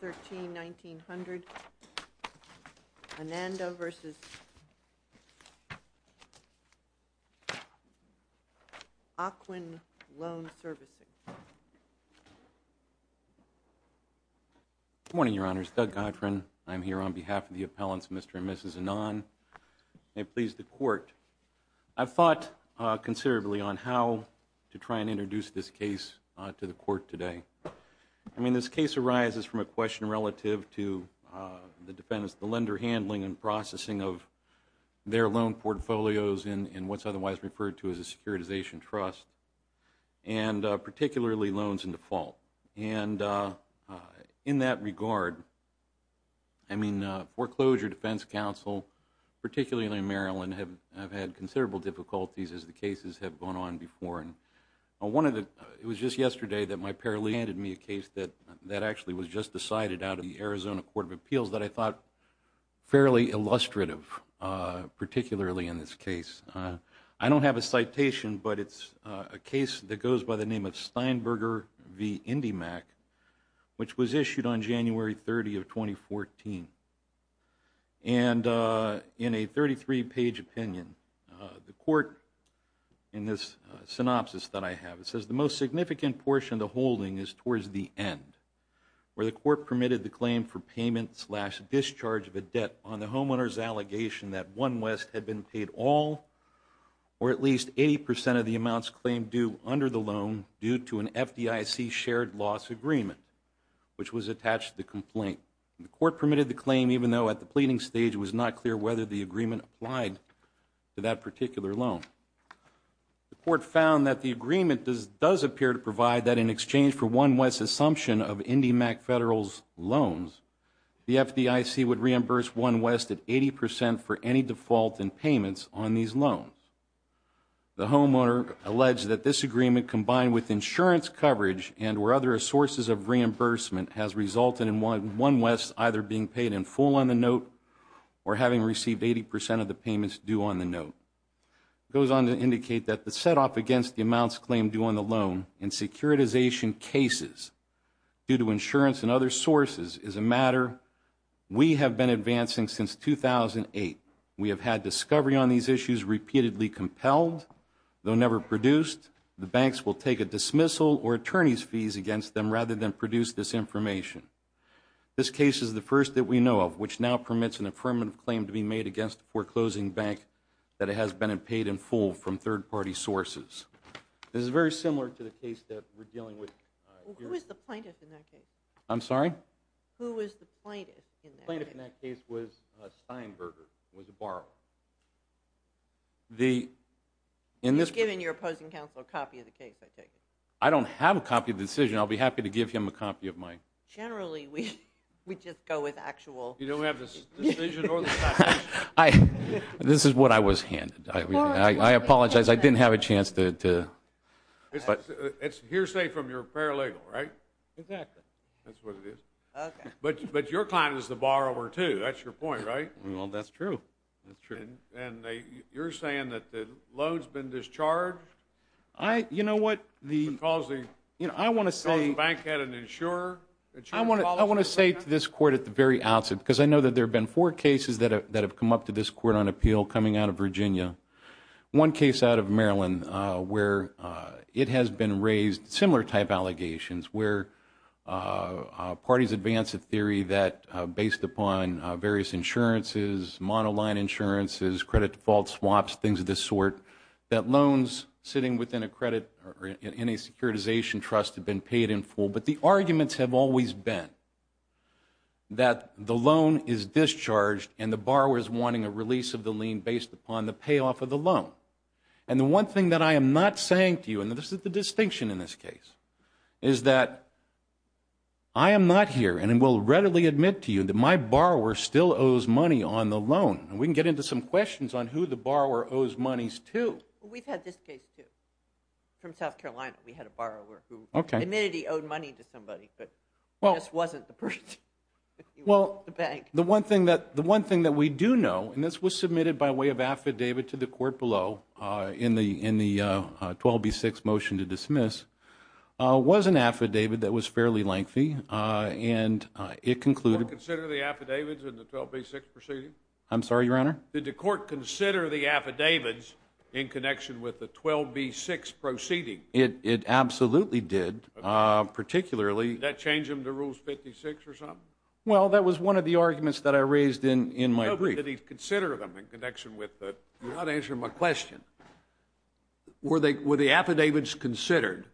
Good morning, Your Honors. Doug Godron. I'm here on behalf of the appellants, Mr. and Mrs. Anand. May it please the Court, I've thought considerably on how to try and question relative to the defense, the lender handling and processing of their loan portfolios in what's otherwise referred to as a securitization trust and particularly loans in default. And in that regard, I mean, Foreclosure Defense Counsel, particularly in Maryland, have had considerable difficulties as the cases have gone on before. And one of the, it was just yesterday that my out of the Arizona Court of Appeals that I thought fairly illustrative, particularly in this case. I don't have a citation, but it's a case that goes by the name of Steinberger v. Indymac, which was issued on January 30 of 2014. And in a 33-page opinion, the Court, in this synopsis that I have, it says the most the claim for payment slash discharge of a debt on the homeowner's allegation that OneWest had been paid all or at least 80% of the amounts claimed due under the loan due to an FDIC shared loss agreement, which was attached to the complaint. The Court permitted the claim even though at the pleading stage it was not clear whether the agreement applied to that particular loan. The Court found that the agreement does appear to provide that in exchange for OneWest's consumption of Indymac Federal's loans, the FDIC would reimburse OneWest at 80% for any default in payments on these loans. The homeowner alleged that this agreement combined with insurance coverage and where other sources of reimbursement has resulted in OneWest either being paid in full on the note or having received 80% of the payments due on the note. It goes on to indicate that the set-off against the amounts claimed due on the loan in securitization cases due to insurance and other sources is a matter we have been advancing since 2008. We have had discovery on these issues repeatedly compelled, though never produced. The banks will take a dismissal or attorney's fees against them rather than produce this information. This case is the first that we know of which now permits an affirmative claim to be made against the foreclosing bank that it has been paid in full from third-party sources. This is very similar to the case that we're dealing with. Who was the plaintiff in that case? I'm sorry? Who was the plaintiff in that case? The plaintiff in that case was Steinberger, was a borrower. You've given your opposing counsel a copy of the case, I take it? I don't have a copy of the decision, I'll be happy to give him a copy of mine. Generally we just go with actual... You don't have the decision or the copy? This is what I was handed. I apologize, I didn't have a chance to It's hearsay from your paralegal, right? Exactly. That's what it is. But your client is the borrower too, that's your point, right? Well, that's true. And you're saying that the load's been discharged? You know what the... Because the bank had an insurer? I want to say to this court at the very outset, because I know that there have been four cases that have come up to this court on appeal coming out of Virginia. One case out of Maryland where it has been raised, similar type allegations, where parties advance a theory that based upon various insurances, monoline insurances, credit default swaps, things of this sort, that loans sitting within a credit or in a securitization trust have been paid in full. But the arguments have always been that the loan is discharged and the borrower is wanting a release of the lien based upon the payoff of the loan. And the one thing that I am not saying to you, and this is the distinction in this case, is that I am not here and will readily admit to you that my borrower still owes money on the loan. We can get into some questions on who the borrower owes monies to. We've had this case too. From South Carolina, we had a borrower who admitted he owed money to somebody, but just wasn't the person. Well, the one thing that we do know, and this was submitted by way of affidavit to the court below in the 12B6 motion to dismiss, was an affidavit that was fairly lengthy, and it concluded... Did the court consider the affidavits in the 12B6 proceeding? I'm sorry, Your Honor? Did the court consider the affidavits in connection with the 12B6 proceeding? It absolutely did, particularly... Did that change them to Rules 56 or something? Well, that was one of the arguments that I raised in my brief. Did he consider them in connection with the... You're not answering my question. Were the affidavits considered?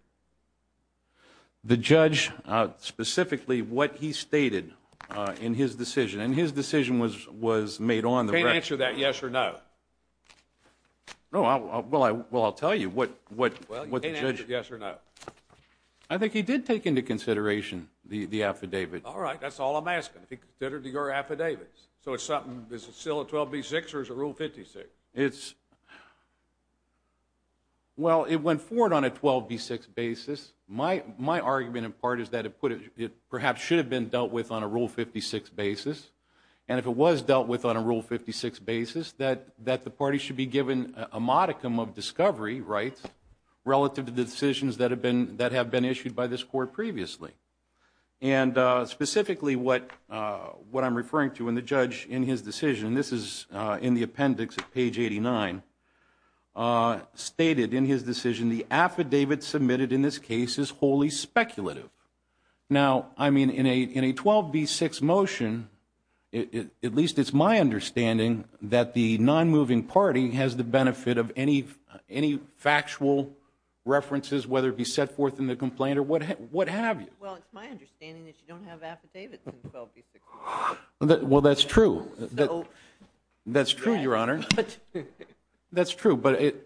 The judge, specifically what he stated in his decision, and his decision was made on the record. You can't answer that yes or no. Well, I'll tell you what the judge... Well, you can't answer yes or no. I think he did take into consideration the affidavit. All right, that's all I'm asking. Did he consider your affidavits? So it's something... Is it still a 12B6 or is it Rule 56? It's... Well, it went forward on a 12B6 basis. My argument, in part, is that it perhaps should have been dealt with on a Rule 56 basis, and if it was dealt with on a Rule 56 basis, that the party should be given a modicum of discovery rights relative to the decisions that have been issued by this Court previously. And specifically what I'm referring to in the judge in his decision, this is in the appendix at page 89, stated in his decision, the affidavit submitted in this case is wholly speculative. Now, I mean, in a 12B6 motion, at least it's my understanding that the non-moving party has the benefit of any factual references, whether it be set forth in the complaint or what have you. Well, it's my understanding that you don't have affidavits in 12B6. Well, that's true. That's true, Your Honor. That's true, but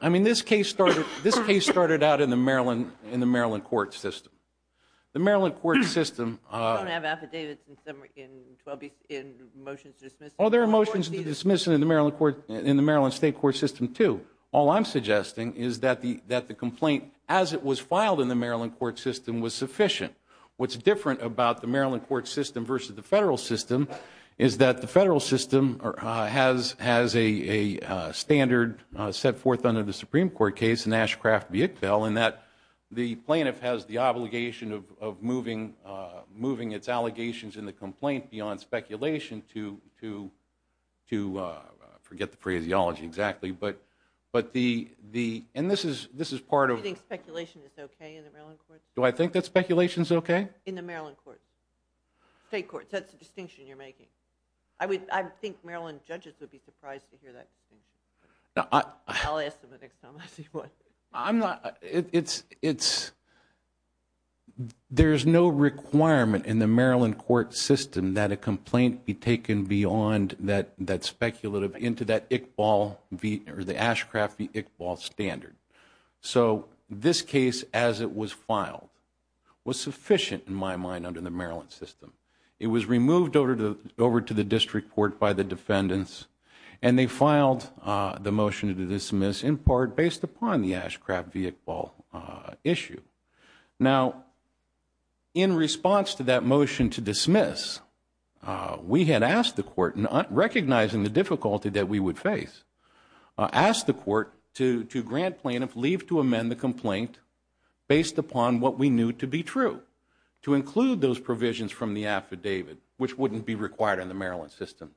I mean, this case started out in the Maryland court system. The Maryland court system... We don't have affidavits in 12B6, in motions to dismiss. Well, there are motions to dismiss in the Maryland state court system, too. All I'm suggesting is that the complaint, as it was filed in the Maryland court system, was sufficient. What's different about the Maryland court system versus the federal system is that the federal system has a standard set forth under the Supreme Court case, in Ashcraft v. Ickbell, in that the plaintiff has the obligation of moving its allegations in the complaint beyond speculation to, forget the phraseology exactly, but the... And this is part of... Do you think speculation is okay in the Maryland court? Do I think that speculation is okay? In the Maryland court, state courts. That's the distinction you're making. I think Maryland judges would be surprised to hear that distinction. I'll ask them the next time I see one. I'm not... There's no requirement in the Maryland court system that a complaint be taken beyond that speculative, into that Ickbell, or the Ashcraft v. Ickbell standard. So, this case, as it was filed, was sufficient, in my mind, under the Maryland system. It was removed over to the district court by the defendants, and they filed the motion to dismiss, in part, based upon the Ashcraft v. Ickbell issue. Now, in response to that motion to dismiss, we had asked the court, recognizing the difficulty that we would face, asked the court to grant plaintiff leave to amend the complaint based upon what we knew to be true. To include those provisions from the affidavit, which wouldn't be required in the Maryland system.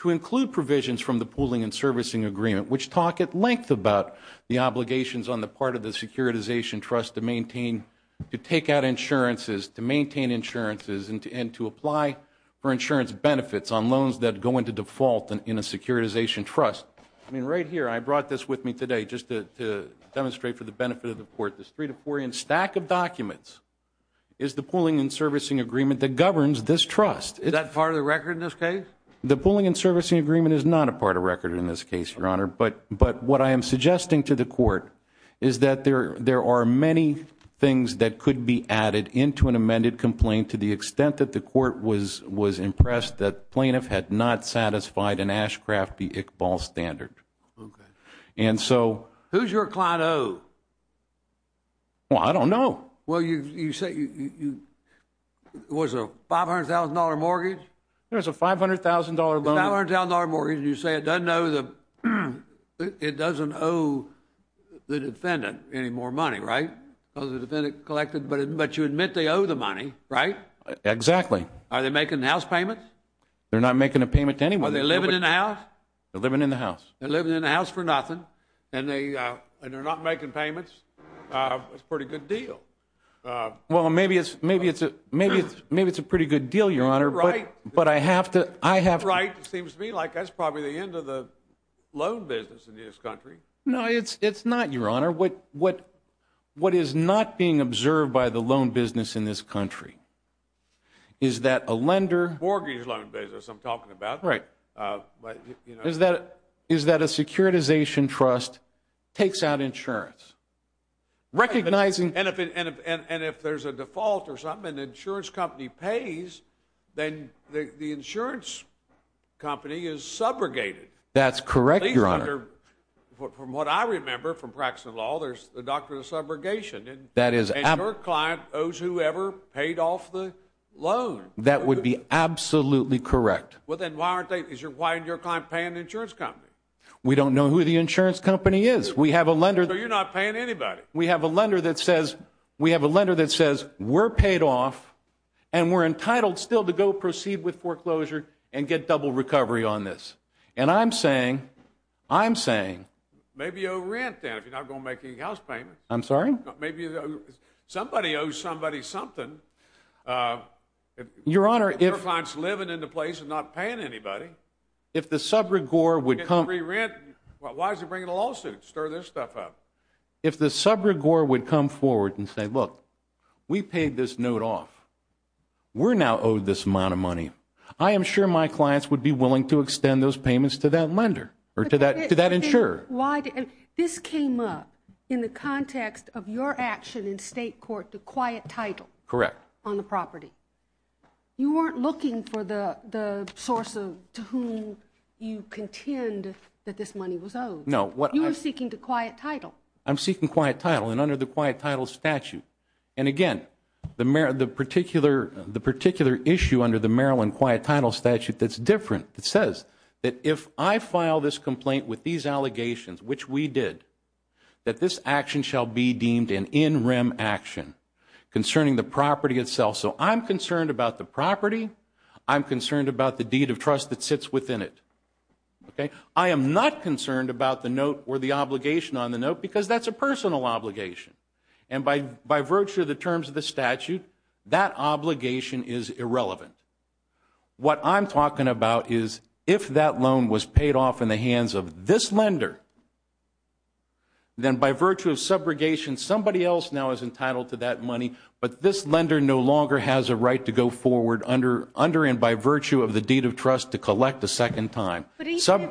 To include provisions from the pooling and servicing agreement, which talk at length about the obligations on the part of the securitization trust to maintain, to take out insurances, to maintain insurances, and to apply for insurance benefits on loans that go into default in a securitization trust. I mean, right here, I brought this with me today, just to demonstrate for the benefit of the court, this three to four-inch stack of documents is the pooling and servicing agreement that governs this trust. Is that part of the record in this case? The pooling and servicing agreement is not a part of record in this case, your honor, but what I am suggesting to the court is that there are many things that could be added into an amended complaint to the extent that the court was impressed that plaintiff had not satisfied an Ashcraft v. Iqbal standard. And so... Who's your client O? Well, I don't know. Well, you said, was it a $500,000 mortgage? It was a $500,000 loan. $500,000 mortgage, and you say it doesn't owe the... It doesn't owe the defendant any more money, right? Because the defendant collected, but you admit they owe the money, right? Exactly. Are they making house payments? They're not making a payment to anyone. Are they living in a house? They're living in the house. They're living in a house for nothing, and they're not making payments. That's a pretty good deal. Well, maybe it's a pretty good deal, your honor, but I have to... You're right. It seems to me like that's probably the end of the loan business in this country. No, it's not, your honor. What is not being observed by the loan business in this country is that a lender... Mortgage loan business, I'm talking about. Right. Is that a securitization trust takes out insurance, recognizing... And if there's a default or something, an insurance company pays, then the insurance company is subrogated. That's correct, your honor. From what I remember from practicing law, there's the doctrine of subrogation. That is... And your client owes whoever paid off the loan. That would be absolutely correct. Well, then why aren't they... Why isn't your client paying the insurance company? We don't know who the insurance company is. We have a lender... So you're not paying anybody. We have a lender that says... And we're entitled still to go proceed with foreclosure and get double recovery on this. And I'm saying... I'm saying... Maybe you owe rent then, if you're not going to make any house payment. I'm sorry? Maybe somebody owes somebody something. Your honor, if... Your client's living in the place and not paying anybody. If the subrogore would come... Get free rent. Well, why is he bringing a lawsuit? Stir this stuff up. If the subrogore would come forward and say, We paid this note off. We're now owed this amount of money. I am sure my clients would be willing to extend those payments to that lender. Or to that insurer. Why did... This came up in the context of your action in state court, the quiet title. Correct. On the property. You weren't looking for the source of... To whom you contend that this money was owed. No, what I... You were seeking the quiet title. I'm seeking quiet title. Under the quiet title statute. And again, the particular issue under the Maryland quiet title statute that's different. It says that if I file this complaint with these allegations, which we did. That this action shall be deemed an in rem action. Concerning the property itself. So I'm concerned about the property. I'm concerned about the deed of trust that sits within it. Okay? I am not concerned about the note or the obligation on the note. Because that's a personal obligation. And by virtue of the terms of the statute, that obligation is irrelevant. What I'm talking about is, if that loan was paid off in the hands of this lender. Then by virtue of subrogation, somebody else now is entitled to that money. But this lender no longer has a right to go forward under... Under and by virtue of the deed of trust to collect a second time.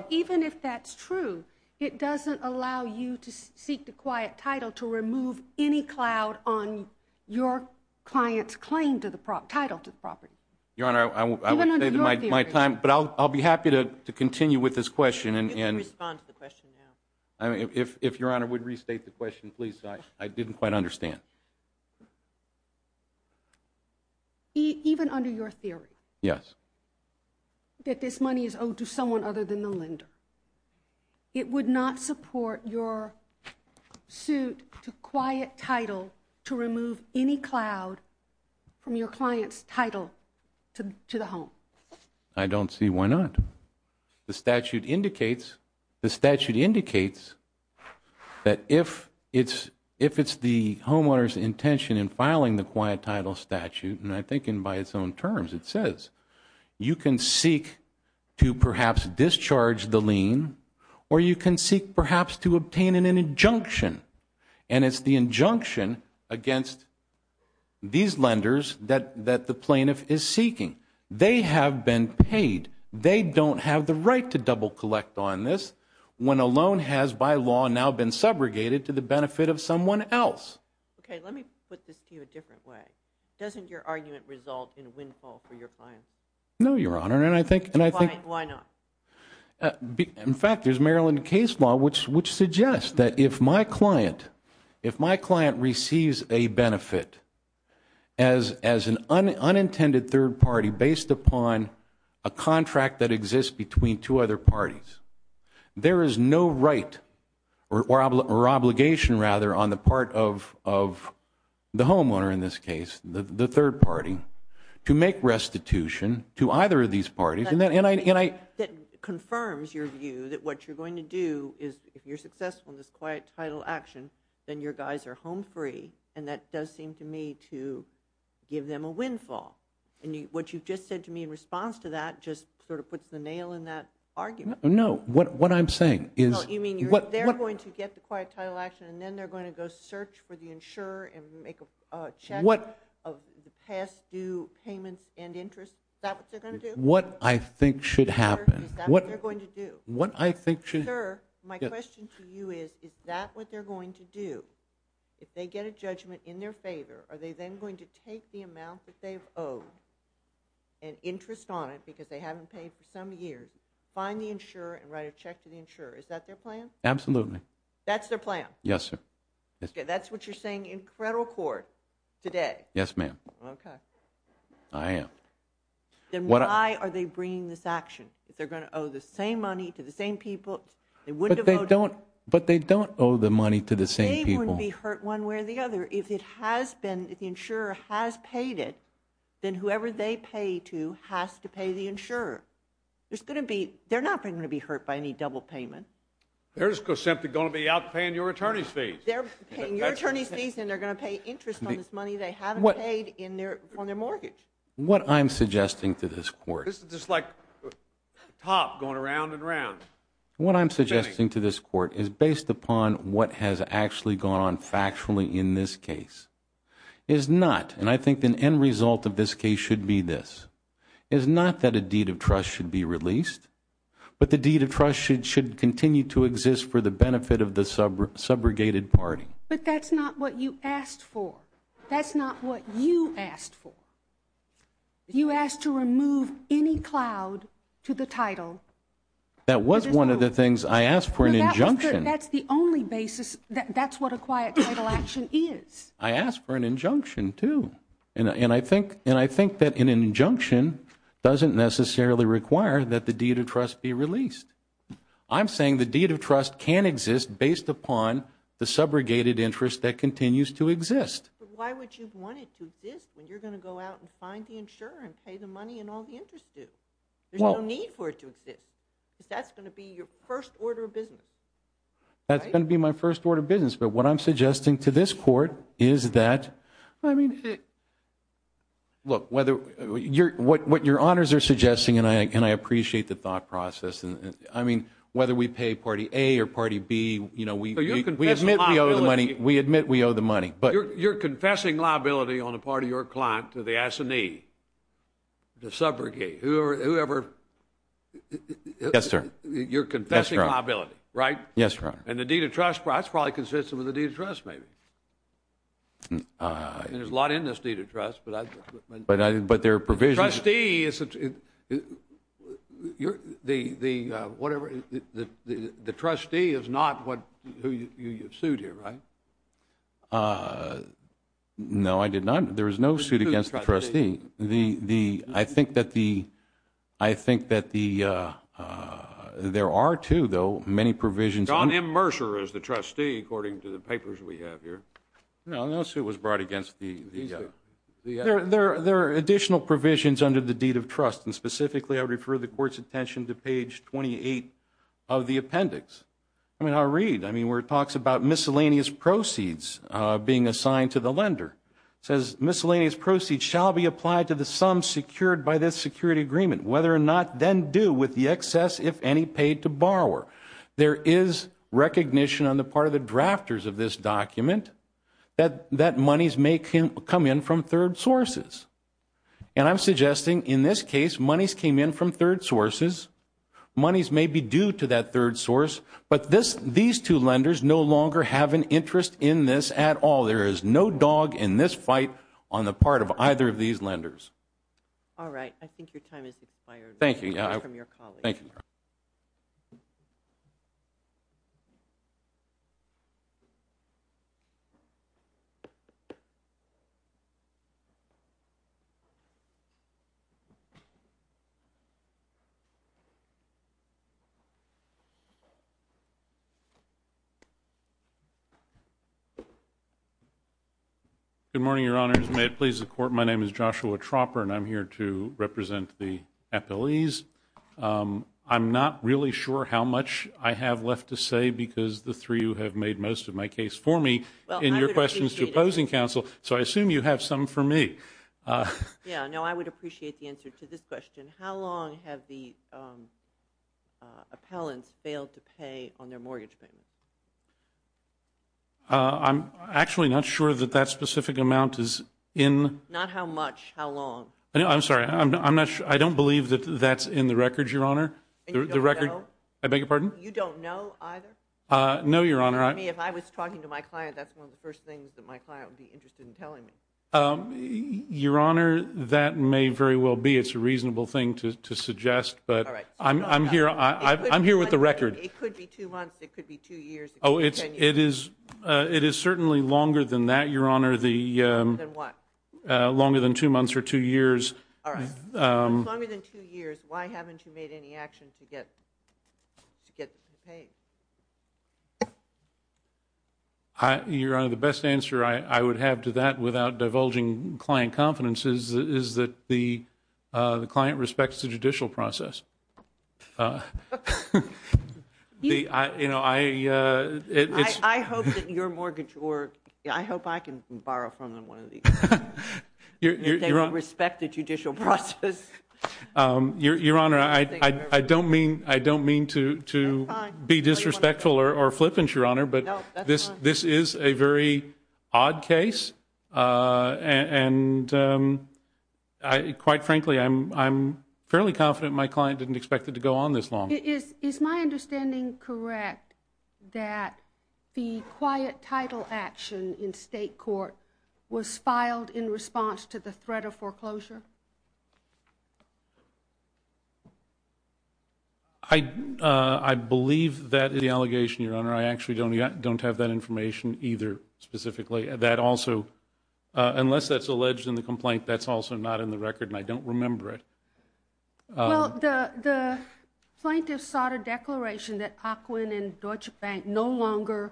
Even if that's true, it doesn't allow you to seek the quiet title to remove any cloud on your client's claim to the title to the property. Your Honor, I would say that my time. But I'll be happy to continue with this question. And respond to the question now. I mean, if Your Honor would restate the question, please. I didn't quite understand. Even under your theory? Yes. That this money is owed to someone other than the lender. It would not support your suit to quiet title to remove any cloud. From your client's title to the home. I don't see why not. The statute indicates the statute indicates. That if it's if it's the homeowner's intention in filing the quiet title statute. And I think in by its own terms. It says you can seek to perhaps discharge the lien. Or you can seek perhaps to obtain an injunction. And it's the injunction against these lenders that that the plaintiff is seeking. They have been paid. They don't have the right to double collect on this. When a loan has by law now been subrogated to the benefit of someone else. Okay, let me put this to you a different way. Doesn't your argument result in a windfall for your client? No, Your Honor. And I think. And I think. Why not? In fact, there's Maryland case law which which suggests that if my client. If my client receives a benefit. As as an unintended third party based upon. A contract that exists between two other parties. There is no right or obligation rather on the part of of. The homeowner in this case the third party. To make restitution to either of these parties. And that and I and I. That confirms your view that what you're going to do. Is if you're successful in this quiet title action. Then your guys are home free. And that does seem to me to give them a windfall. And what you've just said to me in response to that. Just sort of puts the nail in that argument. No, what what I'm saying is. You mean what they're going to get the quiet title action. And then they're going to go search for the insurer. And make a check. What of the past due payments and interest. Is that what they're going to do? What I think should happen. What they're going to do. What I think should. Sir, my question to you is. Is that what they're going to do? If they get a judgment in their favor. Are they then going to take the amount that they've owed. And interest on it because they haven't paid for some years. Find the insurer and write a check to the insurer. Is that their plan? Absolutely. That's their plan. Yes, sir. That's what you're saying in federal court today. Yes, ma'am. Okay. I am. Then why are they bringing this action? If they're going to owe the same money to the same people. They wouldn't have owed. But they don't owe the money to the same people. They wouldn't be hurt one way or the other. If it has been. If the insurer has paid it. Then whoever they pay to has to pay the insurer. There's going to be. They're not going to be hurt by any double payment. There's simply going to be out paying your attorney's fees. They're paying your attorney's fees. And they're going to pay interest on this money. They haven't paid in their on their mortgage. What I'm suggesting to this court. This is just like. Top going around and around. What I'm suggesting to this court is based upon what has actually gone on factually in this case. Is not. And I think the end result of this case should be this. Is not that a deed of trust should be released. But the deed of trust should continue to exist for the benefit of the subrogated party. But that's not what you asked for. That's not what you asked for. You asked to remove any cloud to the title. That was one of the things I asked for an injunction. That's the only basis. That's what a quiet title action is. I asked for an injunction too. And I think and I think that an injunction. Doesn't necessarily require that the deed of trust be released. I'm saying the deed of trust can exist based upon. The subrogated interest that continues to exist. Why would you want it to exist? When you're going to go out and find the insurer and pay the money and all the interest due. There's no need for it to exist. Because that's going to be your first order of business. That's going to be my first order of business. But what I'm suggesting to this court is that I mean. Look, whether you're what your honors are suggesting. And I can I appreciate the thought process. And I mean, whether we pay party A or party B, you know, we admit we owe the money. But you're confessing liability on the part of your client to the assignee. The subrogate, whoever. Yes, sir. You're confessing liability, right? Yes, sir. And the deed of trust that's probably consistent with the deed of trust, maybe. And there's a lot in this deed of trust. But there are provisions. The trustee is the whatever. The trustee is not who you sued here, right? No, I did not. There is no suit against the trustee. I think that the. I think that there are too, though, many provisions. John M. Mercer is the trustee, according to the papers we have here. No, no suit was brought against the. There are additional provisions under the deed of trust. And specifically, I refer the court's attention to page 28 of the appendix. I mean, I read, I mean, where it talks about miscellaneous proceeds being assigned to the lender, says miscellaneous proceeds shall be applied to the sum secured by this security agreement, whether or not then due with the excess, if any, paid to borrower. There is recognition on the part of the drafters of this document that monies may come in from third sources. And I'm suggesting, in this case, monies came in from third sources. Monies may be due to that third source. But these two lenders no longer have an interest in this at all. There is no dog in this fight on the part of either of these lenders. All right. I think your time has expired. Thank you. Thank you. Thank you. Good morning, your honors. May it please the court. My name is Joshua Tropper, and I'm here to represent the FLEs. I'm not really sure how much I have left to say, because the three who have made most of my case for me, in your questions to opposing counsel, so I assume you have some for me. Yeah, no, I would appreciate the answer to this question. How long have the appellants failed to pay on their mortgage payment? I'm actually not sure that that specific amount is in. Not how much, how long. I'm sorry, I'm not sure. I don't believe that that's in the records, your honor. The record. I beg your pardon? You don't know either? No, your honor. I mean, if I was talking to my client, that's one of the first things that my client would be interested in telling me. Your honor, that may very well be. It's a reasonable thing to suggest. But I'm here. I'm here with the record. It could be two months. It could be two years. Oh, it is. It is certainly longer than that, your honor. The. Than what? Longer than two months or two years. All right. Longer than two years. Why haven't you made any action to get paid? Your honor, the best answer I would have to that without divulging client confidence is that the client respects the judicial process. Uh, you know, I, uh, it's I hope that your mortgage or I hope I can borrow from them one of these. They will respect the judicial process. Your honor, I don't mean I don't mean to to be disrespectful or flippant, your honor. But this this is a very odd case. Uh, and, um, I quite frankly, I'm I'm fairly confident my client didn't expect it to go on this long. It is. Is my understanding correct that the quiet title action in state court was filed in response to the threat of foreclosure? I, uh, I believe that the allegation, your honor, I actually don't don't have that information either specifically. That also, uh, unless that's alleged in the complaint, that's also not in the record, and I don't remember it. Well, the the plaintiff sought a declaration that Akwin and Deutsche Bank no longer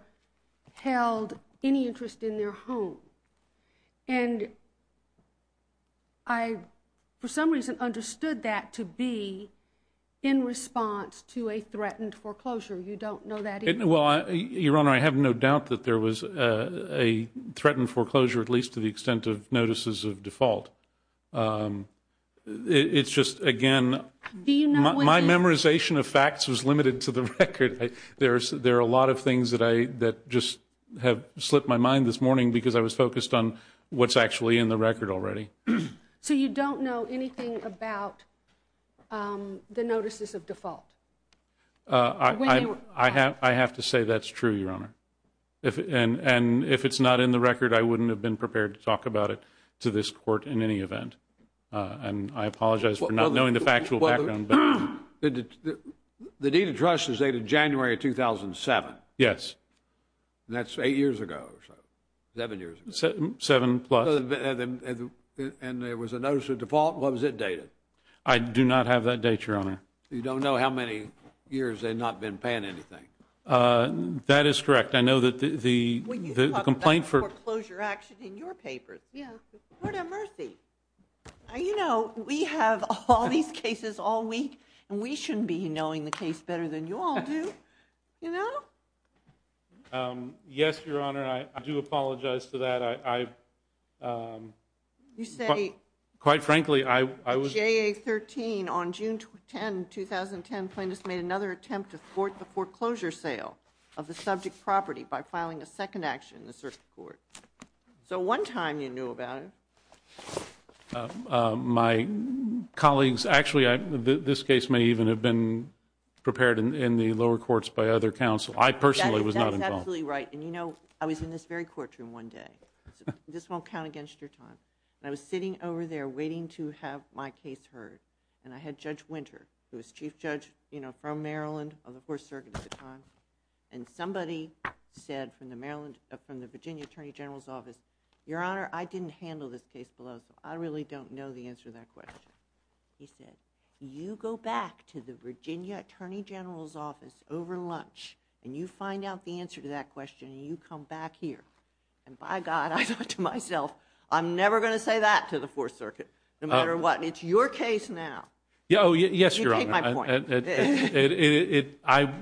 held any interest in their home. And I, for some reason, understood that to be in response to a threatened foreclosure. You don't know that. Well, your honor, I have no doubt that there was a threatened foreclosure, at least to the extent of notices of default. It's just again, my memorization of facts was limited to the record. There's there are a lot of things that I that just have slipped my mind this morning because I was focused on what's actually in the record already. So you don't know anything about the notices of default? Uh, I I have I have to say that's true, your honor. If and and if it's not in the record, I wouldn't have been prepared to talk about it to this court in any event. And I apologize for not knowing the factual background. The deed of trust is dated January 2007. Yes, that's eight years ago or so. Seven years, seven plus. And there was a notice of default. What was it dated? I do not have that date, your honor. You don't know how many years they've not been paying anything. That is correct. I know that the the complaint for foreclosure action in your papers. Yeah, you know, we have all these cases all week and we shouldn't be knowing the case better than you all do, you know? Yes, your honor. I do apologize for that. Um, you say quite frankly, I was 13 on June 10, 2010. Plaintiffs made another attempt to thwart the foreclosure sale of the subject property by filing a second action in the circuit court. So one time you knew about it. My colleagues, actually, this case may even have been prepared in the lower courts by other counsel. I personally was not absolutely right. And, you know, I was in this very courtroom one day. This won't count against your time. I was sitting over there waiting to have my case heard. And I had Judge Winter, who was chief judge, you know, from Maryland of the Fourth Circuit at the time. And somebody said from the Maryland, from the Virginia Attorney General's office, your honor, I didn't handle this case below. So I really don't know the answer to that question. He said, you go back to the Virginia Attorney General's office over lunch and you find out the answer to that question and you come back here. And by God, I thought to myself, I'm never going to say that to the Fourth Circuit, no matter what. It's your case now. Yeah. Oh, yes, your honor. I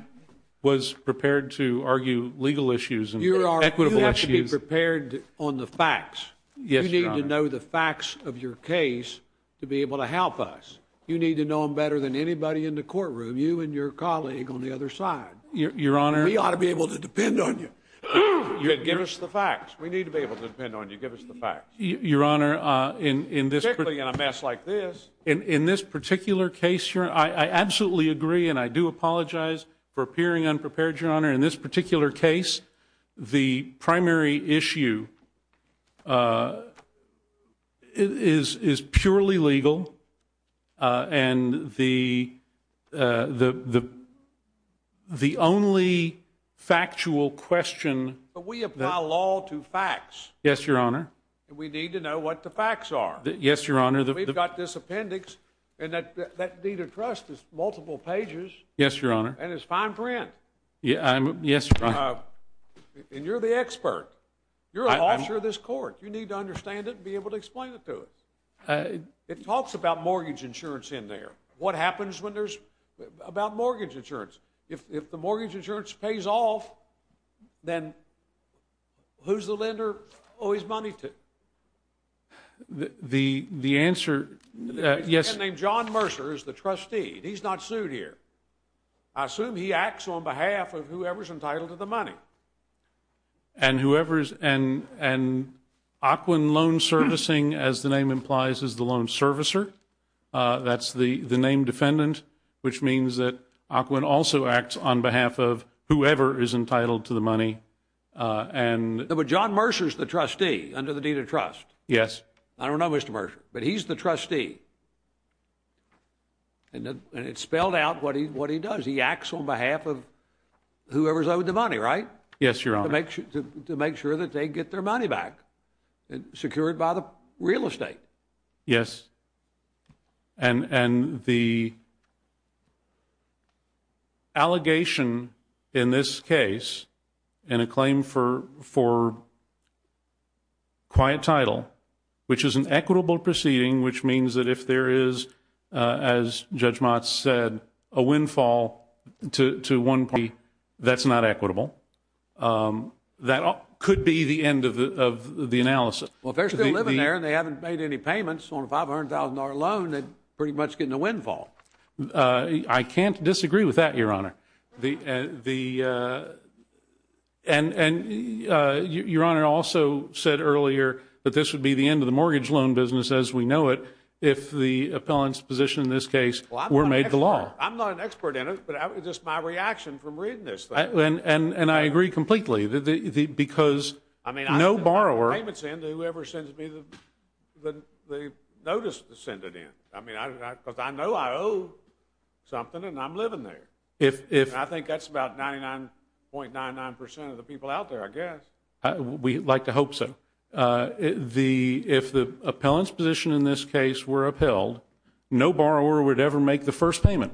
was prepared to argue legal issues and equitable issues. You have to be prepared on the facts. You need to know the facts of your case to be able to help us. You need to know them better than anybody in the courtroom. You and your colleague on the other side. Your honor. We ought to be able to depend on you. Give us the facts. We need to be able to depend on you. Give us the facts. Your honor, in this. Particularly in a mess like this. In this particular case, I absolutely agree and I do apologize for appearing unprepared, your honor. In this particular case, the primary issue is purely legal. Uh, and the, uh, the, the, the only factual question. But we apply law to facts. Yes, your honor. We need to know what the facts are. Yes, your honor. We've got this appendix and that that need of trust is multiple pages. Yes, your honor. And it's fine print. Yeah, I'm. Yes. And you're the expert. You're an officer of this court. You need to understand it and be able to explain it to us. It talks about mortgage insurance in there. What happens when there's about mortgage insurance? If the mortgage insurance pays off, then who's the lender owe his money to? The, the answer. Yes, named John Mercer is the trustee. He's not sued here. I assume he acts on behalf of whoever's entitled to the money. And whoever's and, and. Aquin loan servicing, as the name implies, is the loan servicer. Uh, that's the, the name defendant, which means that Aquin also acts on behalf of whoever is entitled to the money. Uh, and. But John Mercer is the trustee under the deed of trust. Yes. I don't know Mr. Mercer, but he's the trustee. And it spelled out what he, what he does. He acts on behalf of whoever's owed the money, right? Yes, Your Honor. To make sure that they get their money back and secured by the real estate. Yes. And, and the. Allegation in this case and a claim for, for. Quiet title, which is an equitable proceeding, which means that if there is, as Judge Mott said, a windfall to, to one P that's not equitable. That could be the end of the, of the analysis. Well, if they're still living there and they haven't made any payments on a $500,000 loan, they pretty much get in the windfall. I can't disagree with that, Your Honor. The, the. And, and Your Honor also said earlier that this would be the end of the mortgage loan business as we know it. If the appellant's position in this case were made the law. I'm not an expert in it, but just my reaction from reading this. And, and I agree completely that the, the, because. I mean. No borrower. Payments in to whoever sends me the, the, the notice to send it in. I mean, I, because I know I owe something and I'm living there. If, if. I think that's about 99.99% of the people out there, I guess. We like to hope so. The, if the appellant's position in this case were upheld, no borrower would ever make the first payment.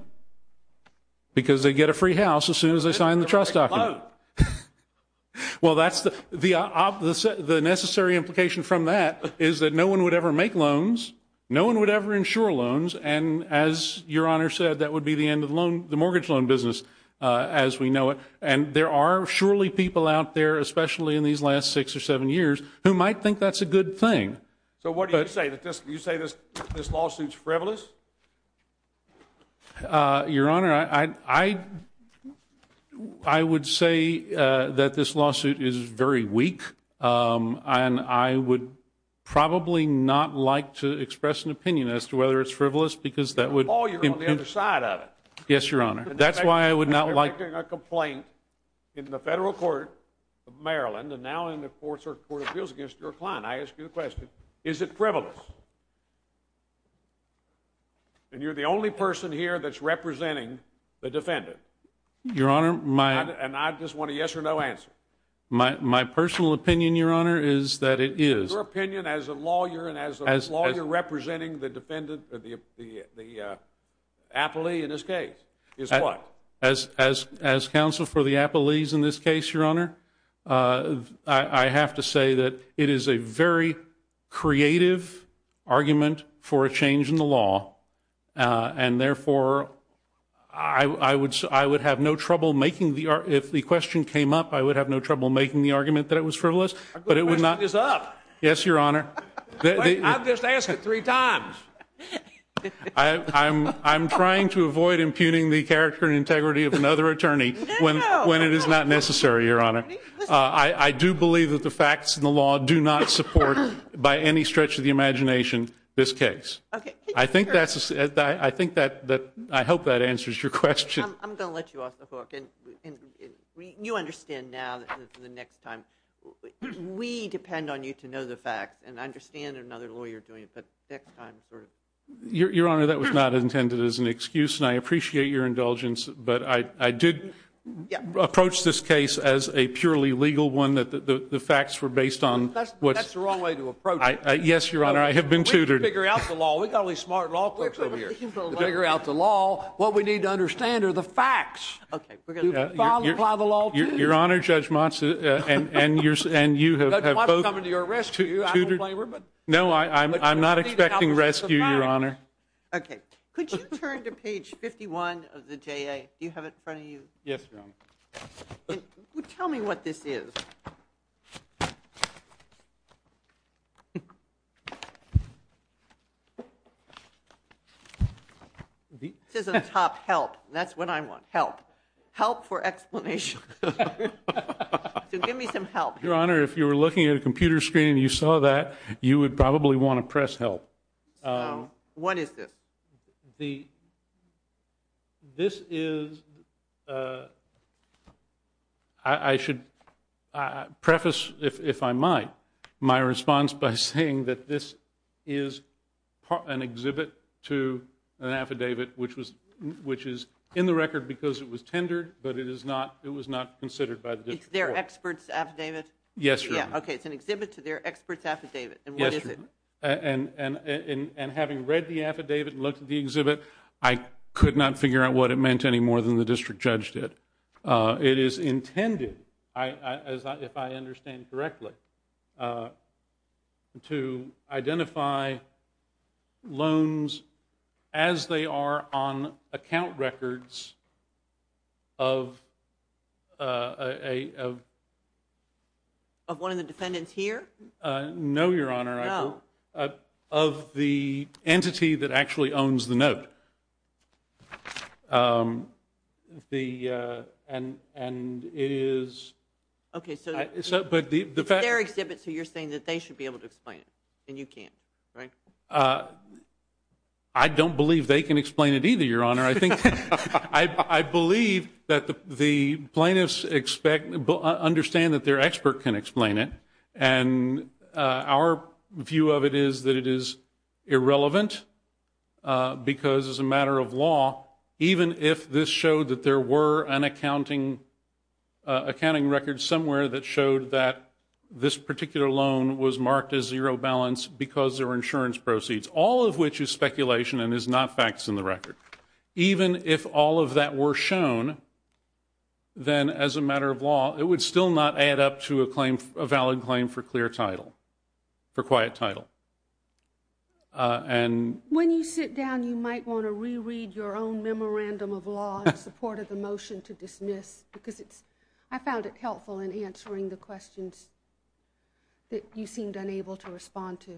Because they get a free house as soon as they sign the trust document. They get a free loan. Well, that's the, the, the necessary implication from that is that no one would ever make loans. No one would ever insure loans. And as Your Honor said, that would be the end of the loan, the mortgage loan business as we know it. And there are surely people out there, especially in these last six or seven years, who might think that's a good thing. So what do you say that this, you say this, this lawsuit's frivolous? Uh, Your Honor, I, I, I would say, uh, that this lawsuit is very weak. Um, and I would probably not like to express an opinion as to whether it's frivolous because that would. Oh, you're on the other side of it. Yes, Your Honor. That's why I would not like. You're making a complaint in the federal court of Maryland and now in the courts or court of appeals against your client. I ask you the question, is it frivolous? And you're the only person here that's representing the defendant. Your Honor, my. And I just want a yes or no answer. My, my personal opinion, Your Honor, is that it is. Your opinion as a lawyer and as a lawyer representing the defendant, the, the, the, uh, appellee in this case is what? As, as, as counsel for the appellees in this case, Your Honor, uh, I, I have to say that it is a very creative argument for a change in the law. Uh, and therefore I, I would, I would have no trouble making the art. If the question came up, I would have no trouble making the argument that it was frivolous, but it would not. Is up. Yes, Your Honor. I've just asked it three times. I, I'm, I'm trying to avoid impugning the character and integrity of another attorney when, when it is not necessary, Your Honor. Uh, I, I do believe that the facts in the law do not support by any stretch of the imagination this case. Okay. I think that's, I think that, that I hope that answers your question. I'm going to let you off the hook and you understand now that the next time we depend on you to know the facts and understand another lawyer doing it, but next time. Your Honor, that was not intended as an excuse and I appreciate your indulgence, but I, I did approach this case as a purely legal one that the facts were based on. That's the wrong way to approach it. Yes, Your Honor. I have been tutored. We figure out the law. We got all these smart law folks over here. Figure out the law. What we need to understand are the facts. Okay. We're going to file and apply the law to you. Your Honor, Judge Motz, uh, uh, and, and you're, and you have, have both. Judge Motz is coming to your rescue, I don't blame her, but. No, I, I'm, I'm not expecting rescue, Your Honor. Okay. Could you turn to page 51 of the JA? Do you have it in front of you? Yes, Your Honor. Tell me what this is. This is a top help. That's what I want. Help. Help for explanation. So give me some help. Your Honor, if you were looking at a computer screen and you saw that, you would probably want to press help. What is this? The, this is, uh, I, I should, uh, preface if, if I might, my response by saying that this is part, an exhibit to an affidavit, which was, which is in the record because it was tendered, but it is not, it was not considered by the district court. It's their expert's affidavit? Yes, Your Honor. Okay. It's an exhibit to their expert's affidavit. And what is it? And, and, and, and having read the affidavit and looked at the exhibit, I could not figure out what it meant any more than the district judge did. Uh, it is intended, I, I, as I, if I understand correctly, uh, to identify loans as they are on account records of, uh, a, of, of one of the defendants here? No, Your Honor. Uh, of the entity that actually owns the note. Um, the, uh, and, and it is. Okay. So, so, but the, the fact. It's their exhibit, so you're saying that they should be able to explain it and you can't, right? Uh, I don't believe they can explain it either, Your Honor. I think, I, I believe that the, the plaintiffs expect, understand that their expert can explain it and, uh, our view of it is that it is irrelevant, uh, because as a matter of law, even if this showed that there were an accounting, uh, accounting record somewhere that showed that this particular loan was marked as zero balance because there were insurance proceeds, all of which is speculation and is not facts in the record. Even if all of that were shown, then as a matter of law, it would still not add up to a claim, a valid claim for clear title, for quiet title. Uh, and when you sit down, you might want to reread your own memorandum of law in support of the motion to dismiss because it's, I found it helpful in answering the questions that you seemed unable to respond to.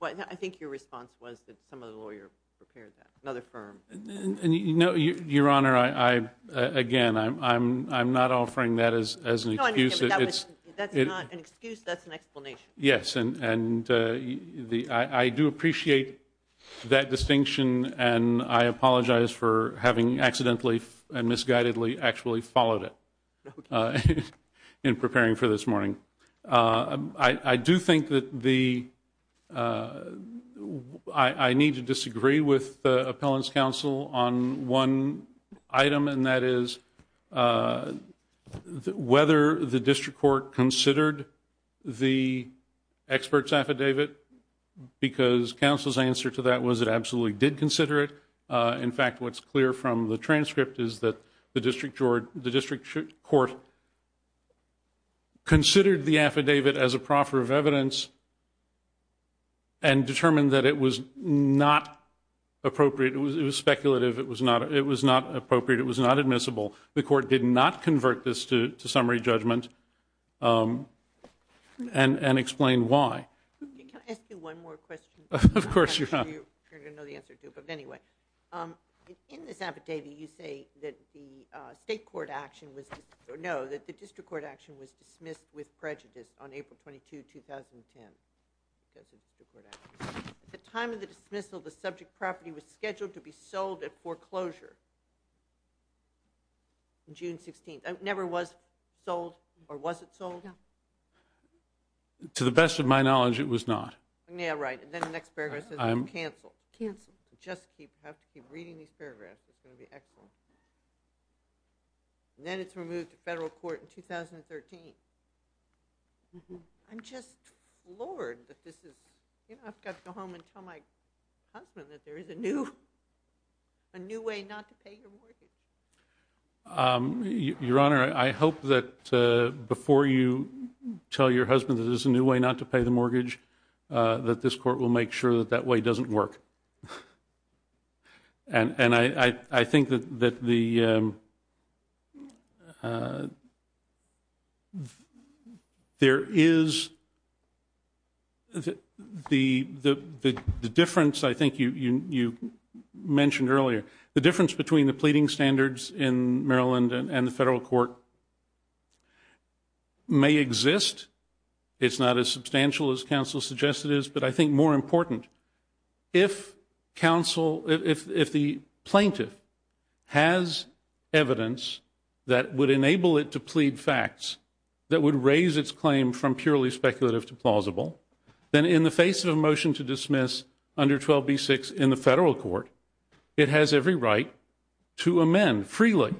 Well, I think your response was that some of the lawyer prepared that another firm. And you know, Your Honor, I, I, uh, again, I'm, I'm, I'm not offering that as, as an excuse that it's, that's not an excuse. That's an explanation. Yes. And, and, uh, the, I, I do appreciate that distinction and I apologize for having accidentally and misguidedly actually followed it, uh, in preparing for this morning. Uh, I, I do think that the, uh, I, I need to disagree with the appellant's counsel on one item and that is, uh, whether the district court considered the expert's affidavit because counsel's answer to that was it absolutely did consider it. Uh, in fact, what's clear from the transcript is that the district court, the district court considered the affidavit as a proffer of evidence and determined that it was not appropriate. It was, it was speculative. It was not, it was not appropriate. It was not admissible. The court did not convert this to, to summary judgment, um, and, and explain why. Can I ask you one more question? Of course, Your Honor. I'm sure you're going to know the answer to it. But anyway, um, in this affidavit, you say that the, uh, state court action was, no, that the district court action was dismissed with prejudice on April 22, 2010 because of the court action. At the time of the dismissal, the subject property was scheduled to be sold at foreclosure on June 16th. It never was sold or was it sold? To the best of my knowledge, it was not. Yeah, right. And then the next paragraph says it's canceled. Canceled. Just keep, have to keep reading these paragraphs. It's going to be excellent. And then it's removed to federal court in 2013. I'm just floored that this is, you know, I've got to go home and tell my husband that there is a new, a new way not to pay your mortgage. Um, Your Honor, I hope that, uh, before you tell your husband that there's a new way not to pay the mortgage, uh, that this court will make sure that that way doesn't work. And, and I, I, I think that, that the, um, uh, there is the, the, the, the, the difference, I think you, you, you mentioned earlier, the difference between the pleading standards in Maryland and the federal court may exist. It's not as substantial as counsel suggested is, but I think more important if, if, if counsel, if, if the plaintiff has evidence that would enable it to plead facts that would raise its claim from purely speculative to plausible, then in the face of a motion to dismiss under 12 B six in the federal court, it has every right to amend freely.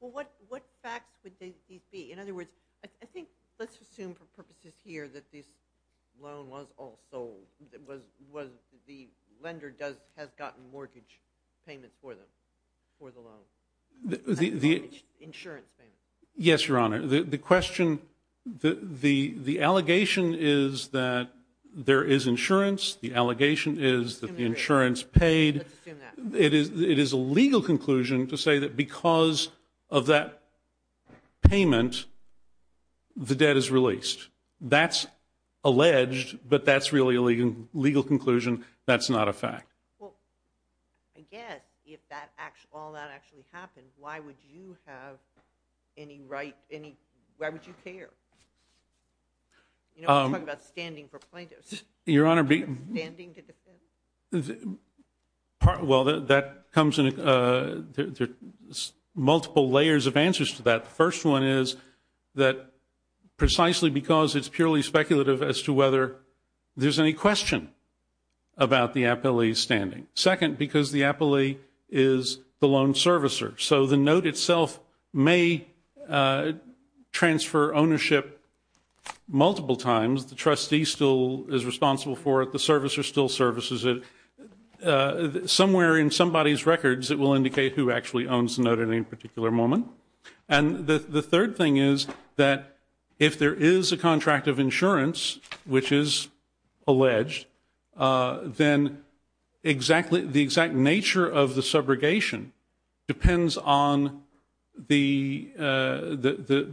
Well, what, what facts would they be? In other words, I think let's assume for purposes here that this loan was also was, was the lender does, has gotten mortgage payments for the, for the loan insurance payment. Yes, Your Honor, the, the question, the, the, the allegation is that there is insurance. The allegation is that the insurance paid, it is, it is a legal conclusion to say that because of that payment, the debt is released. That's alleged, but that's really a legal conclusion. That's not a fact. Well, I guess if that acts, all that actually happened, why would you have any right, any, why would you care? You know, I'm talking about standing for plaintiffs. Your Honor, be standing to defend. Well, that comes in, there's multiple layers of answers to that. First one is that precisely because it's purely speculative as to whether there's any question about the appellee's standing. Second, because the appellee is the loan servicer. So the note itself may transfer ownership multiple times. The trustee still is responsible for it. The servicer still services it. Somewhere in somebody's records, it will indicate who actually owns the note at any moment. And the third thing is that if there is a contract of insurance, which is alleged, then the exact nature of the subrogation depends on the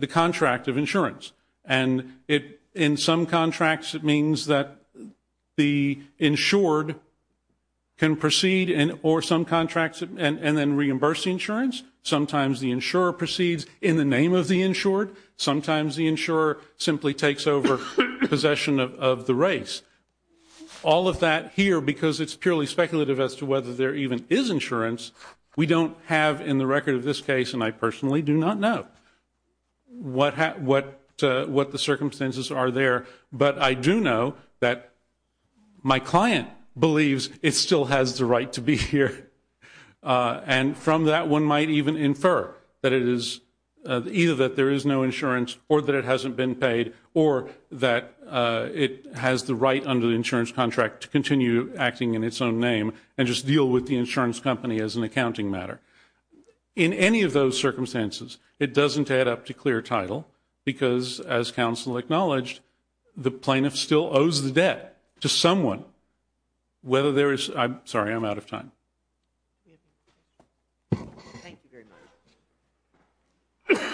contract of insurance. And in some contracts, it means that the insured can proceed, or some contracts, and then reimburse the insurance. Sometimes the insurer proceeds in the name of the insured. Sometimes the insurer simply takes over possession of the race. All of that here, because it's purely speculative as to whether there even is insurance, we don't have in the record of this case, and I personally do not know what the circumstances are there. But I do know that my client believes it still has the right to be here. And from that, one might even infer that it is either that there is no insurance, or that it hasn't been paid, or that it has the right under the insurance contract to continue acting in its own name and just deal with the insurance company as an accounting matter. In any of those circumstances, it doesn't add up to clear title, because as counsel acknowledged, the plaintiff still owes the debt to someone. Whether there is, I'm sorry, I'm out of time. Thank you very much.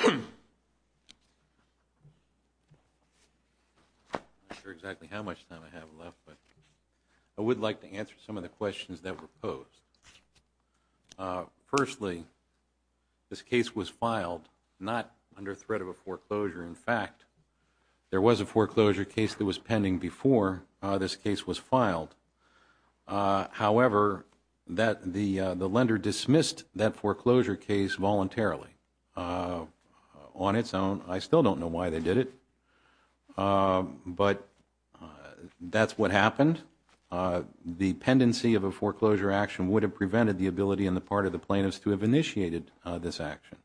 I'm not sure exactly how much time I have left, but I would like to answer some of the questions that were posed. Firstly, this case was filed not under threat of a foreclosure. In fact, there was a foreclosure case that was pending before this case was filed. However, the lender dismissed that foreclosure case voluntarily on its own. I still don't know why they did it, but that's what happened. The pendency of a foreclosure action would have prevented the ability on the part of the plaintiffs to have initiated this action.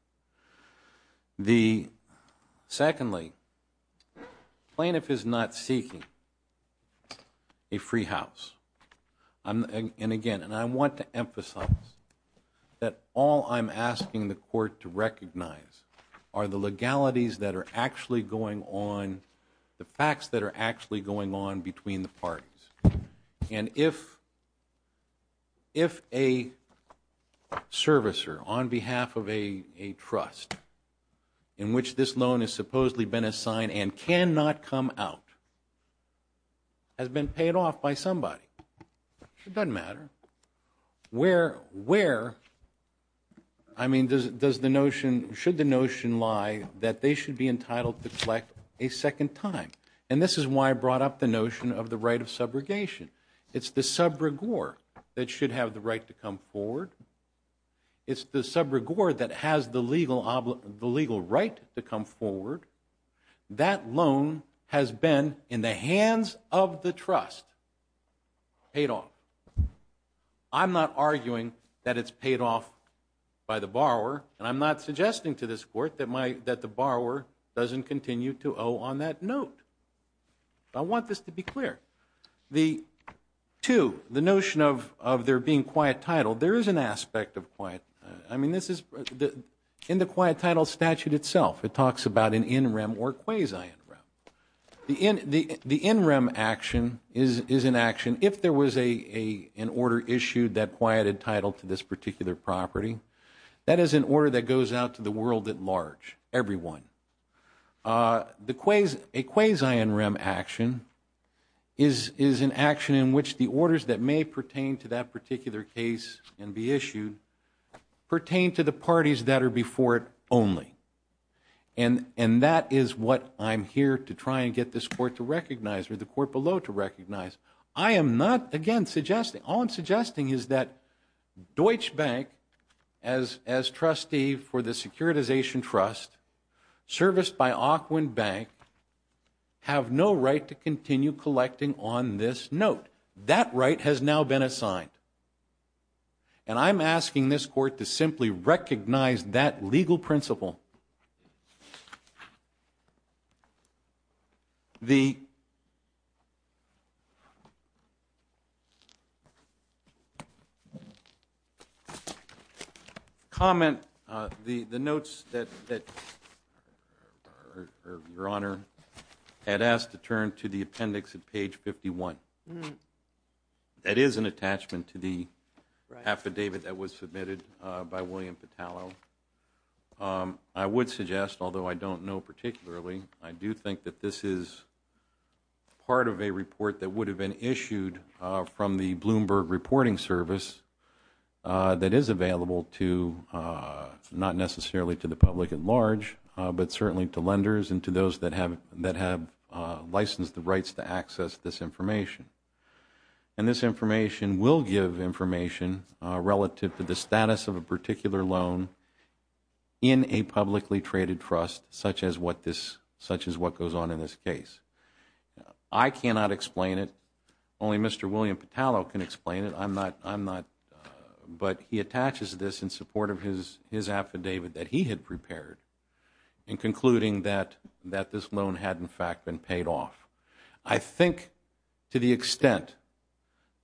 Secondly, the plaintiff is not seeking a free house, and again, I want to emphasize that all I'm asking the court to recognize are the legalities that are actually going on, the facts that are actually going on between the parties. And if a servicer on behalf of a trust in which this loan has supposedly been assigned and cannot come out has been paid off by somebody, it doesn't matter, where, I mean, should the notion lie that they should be entitled to collect a second time? And this is why I brought up the notion of the right of subrogation. It's the subregor that should have the right to come forward. It's the subregor that has the legal right to come forward. That loan has been in the hands of the trust paid off. I'm not arguing that it's paid off by the borrower, and I'm not suggesting to this court that the borrower doesn't continue to owe on that note. But I want this to be clear. The two, the notion of there being quiet title, there is an aspect of quiet. I mean, this is in the quiet title statute itself. It talks about an in rem or quasi in rem. The in rem action is an action if there was an order issued that quieted title to this particular property. That is an order that goes out to the world at large, everyone. A quasi in rem action is an action in which the orders that may pertain to that particular case and be issued pertain to the parties that are before it only. And that is what I'm here to try and get this court to recognize or the court below to recognize. I am not, again, suggesting, all I'm suggesting is that Deutsche Bank, as trustee for the service by Auckland Bank, have no right to continue collecting on this note. That right has now been assigned. And I'm asking this court to simply recognize that legal principle. The comment, the notes that your honor had asked to turn to the appendix at page 51. That is an attachment to the affidavit that was submitted by William Petallo. I would suggest, although I don't know particularly, I do think that this is part of a report that would have been issued from the Bloomberg Reporting Service that is available to, not necessarily to the public at large, but certainly to lenders and to those that have licensed the rights to access this information. And this information will give information relative to the status of a particular loan in a publicly traded trust, such as what this, such as what goes on in this case. I cannot explain it. Only Mr. William Petallo can explain it. I'm not, I'm not, but he attaches this in support of his, his affidavit that he had prepared in concluding that, that this loan had in fact been paid off. I think to the extent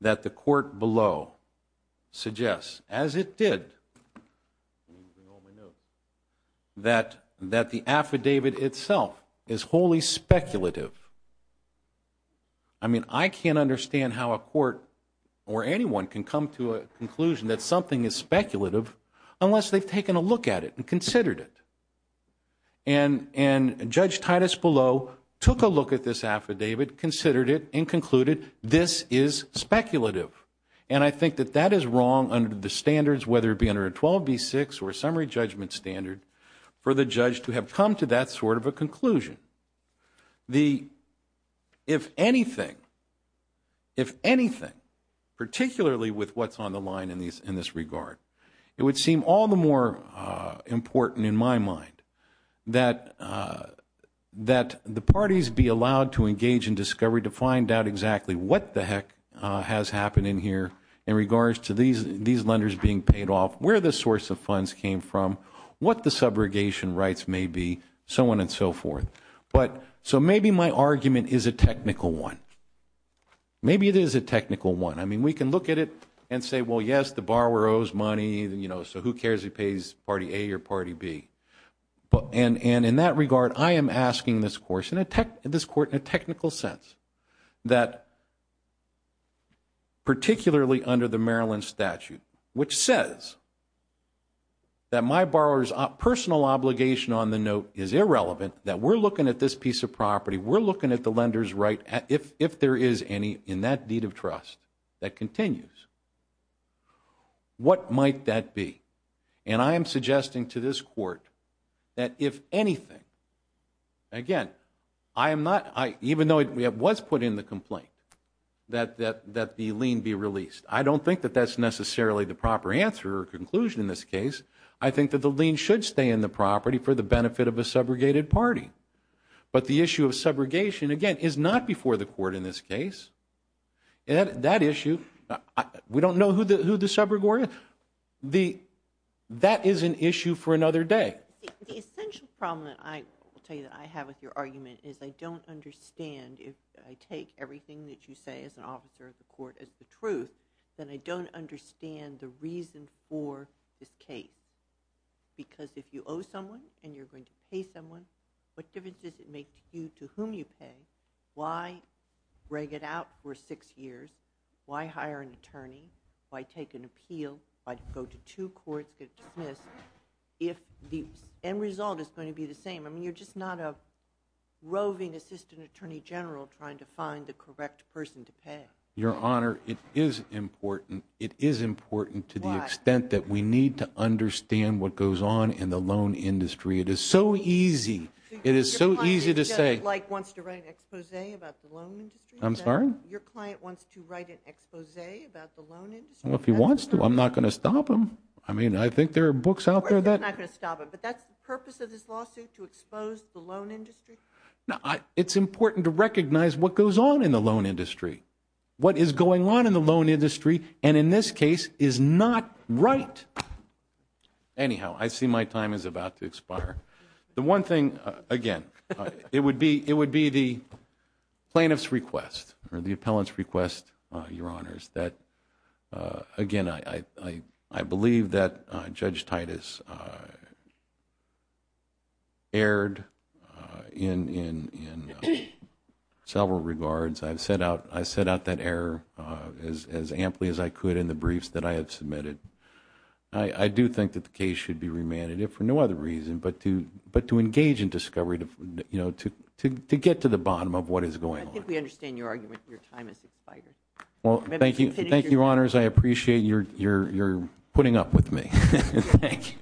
that the court below suggests, as it did, that, that the affidavit itself is wholly speculative. I mean, I can't understand how a court or anyone can come to a conclusion that something is speculative unless they've taken a look at it and considered it. And, and Judge Titus Below took a look at this affidavit, considered it, and concluded this is speculative. And I think that that is wrong under the standards, whether it be under a 12B6 or a summary judgment standard, for the judge to have come to that sort of a conclusion. The, if anything, if anything, particularly with what's on the line in these, in this that, that the parties be allowed to engage in discovery to find out exactly what the heck has happened in here in regards to these, these lenders being paid off, where the source of funds came from, what the subrogation rights may be, so on and so forth. But, so maybe my argument is a technical one. Maybe it is a technical one. I mean, we can look at it and say, well, yes, the borrower owes money, you know, so who cares if he pays party A or party B. And, and in that regard, I am asking this court, in a technical sense, that particularly under the Maryland statute, which says that my borrower's personal obligation on the note is irrelevant, that we're looking at this piece of property, we're looking at the lender's right, if, if there is any in that deed of trust that continues, what might that be? And I am suggesting to this court that if anything, again, I am not, even though it was put in the complaint, that, that, that the lien be released. I don't think that that's necessarily the proper answer or conclusion in this case. I think that the lien should stay in the property for the benefit of a subrogated party. But the issue of subrogation, again, is not before the court in this case. And that issue, we don't know who the, who the subrogator is. The, that is an issue for another day. The essential problem that I will tell you that I have with your argument is I don't understand if I take everything that you say as an officer of the court as the truth, then I don't understand the reason for this case. Because if you owe someone and you're going to pay someone, what difference does it make to you to whom you pay? Why break it out for six years? Why hire an attorney? Why take an appeal? Why go to two courts, get dismissed if the end result is going to be the same? I mean, you're just not a roving assistant attorney general trying to find the correct person to pay. Your Honor, it is important. It is important to the extent that we need to understand what goes on in the loan industry. It is so easy. It is so easy to say. Your client wants to write an expose about the loan industry? I'm sorry? Your client wants to write an expose about the loan industry? If he wants to. I'm not going to stop him. I mean, I think there are books out there that. You're not going to stop him. But that's the purpose of this lawsuit, to expose the loan industry? It's important to recognize what goes on in the loan industry. What is going on in the loan industry and in this case is not right. Anyhow, I see my time is about to expire. The one thing, again, it would be the plaintiff's request or the appellant's request, Your Honors, that again, I believe that Judge Titus erred in several regards. I've set out that error as amply as I could in the briefs that I have submitted. I do think that the case should be remanded, if for no other reason, but to engage in discovery to get to the bottom of what is going on. I think we understand your argument. Your time has expired. Well, thank you. Thank you, Your Honors. I appreciate your putting up with me. Thank you.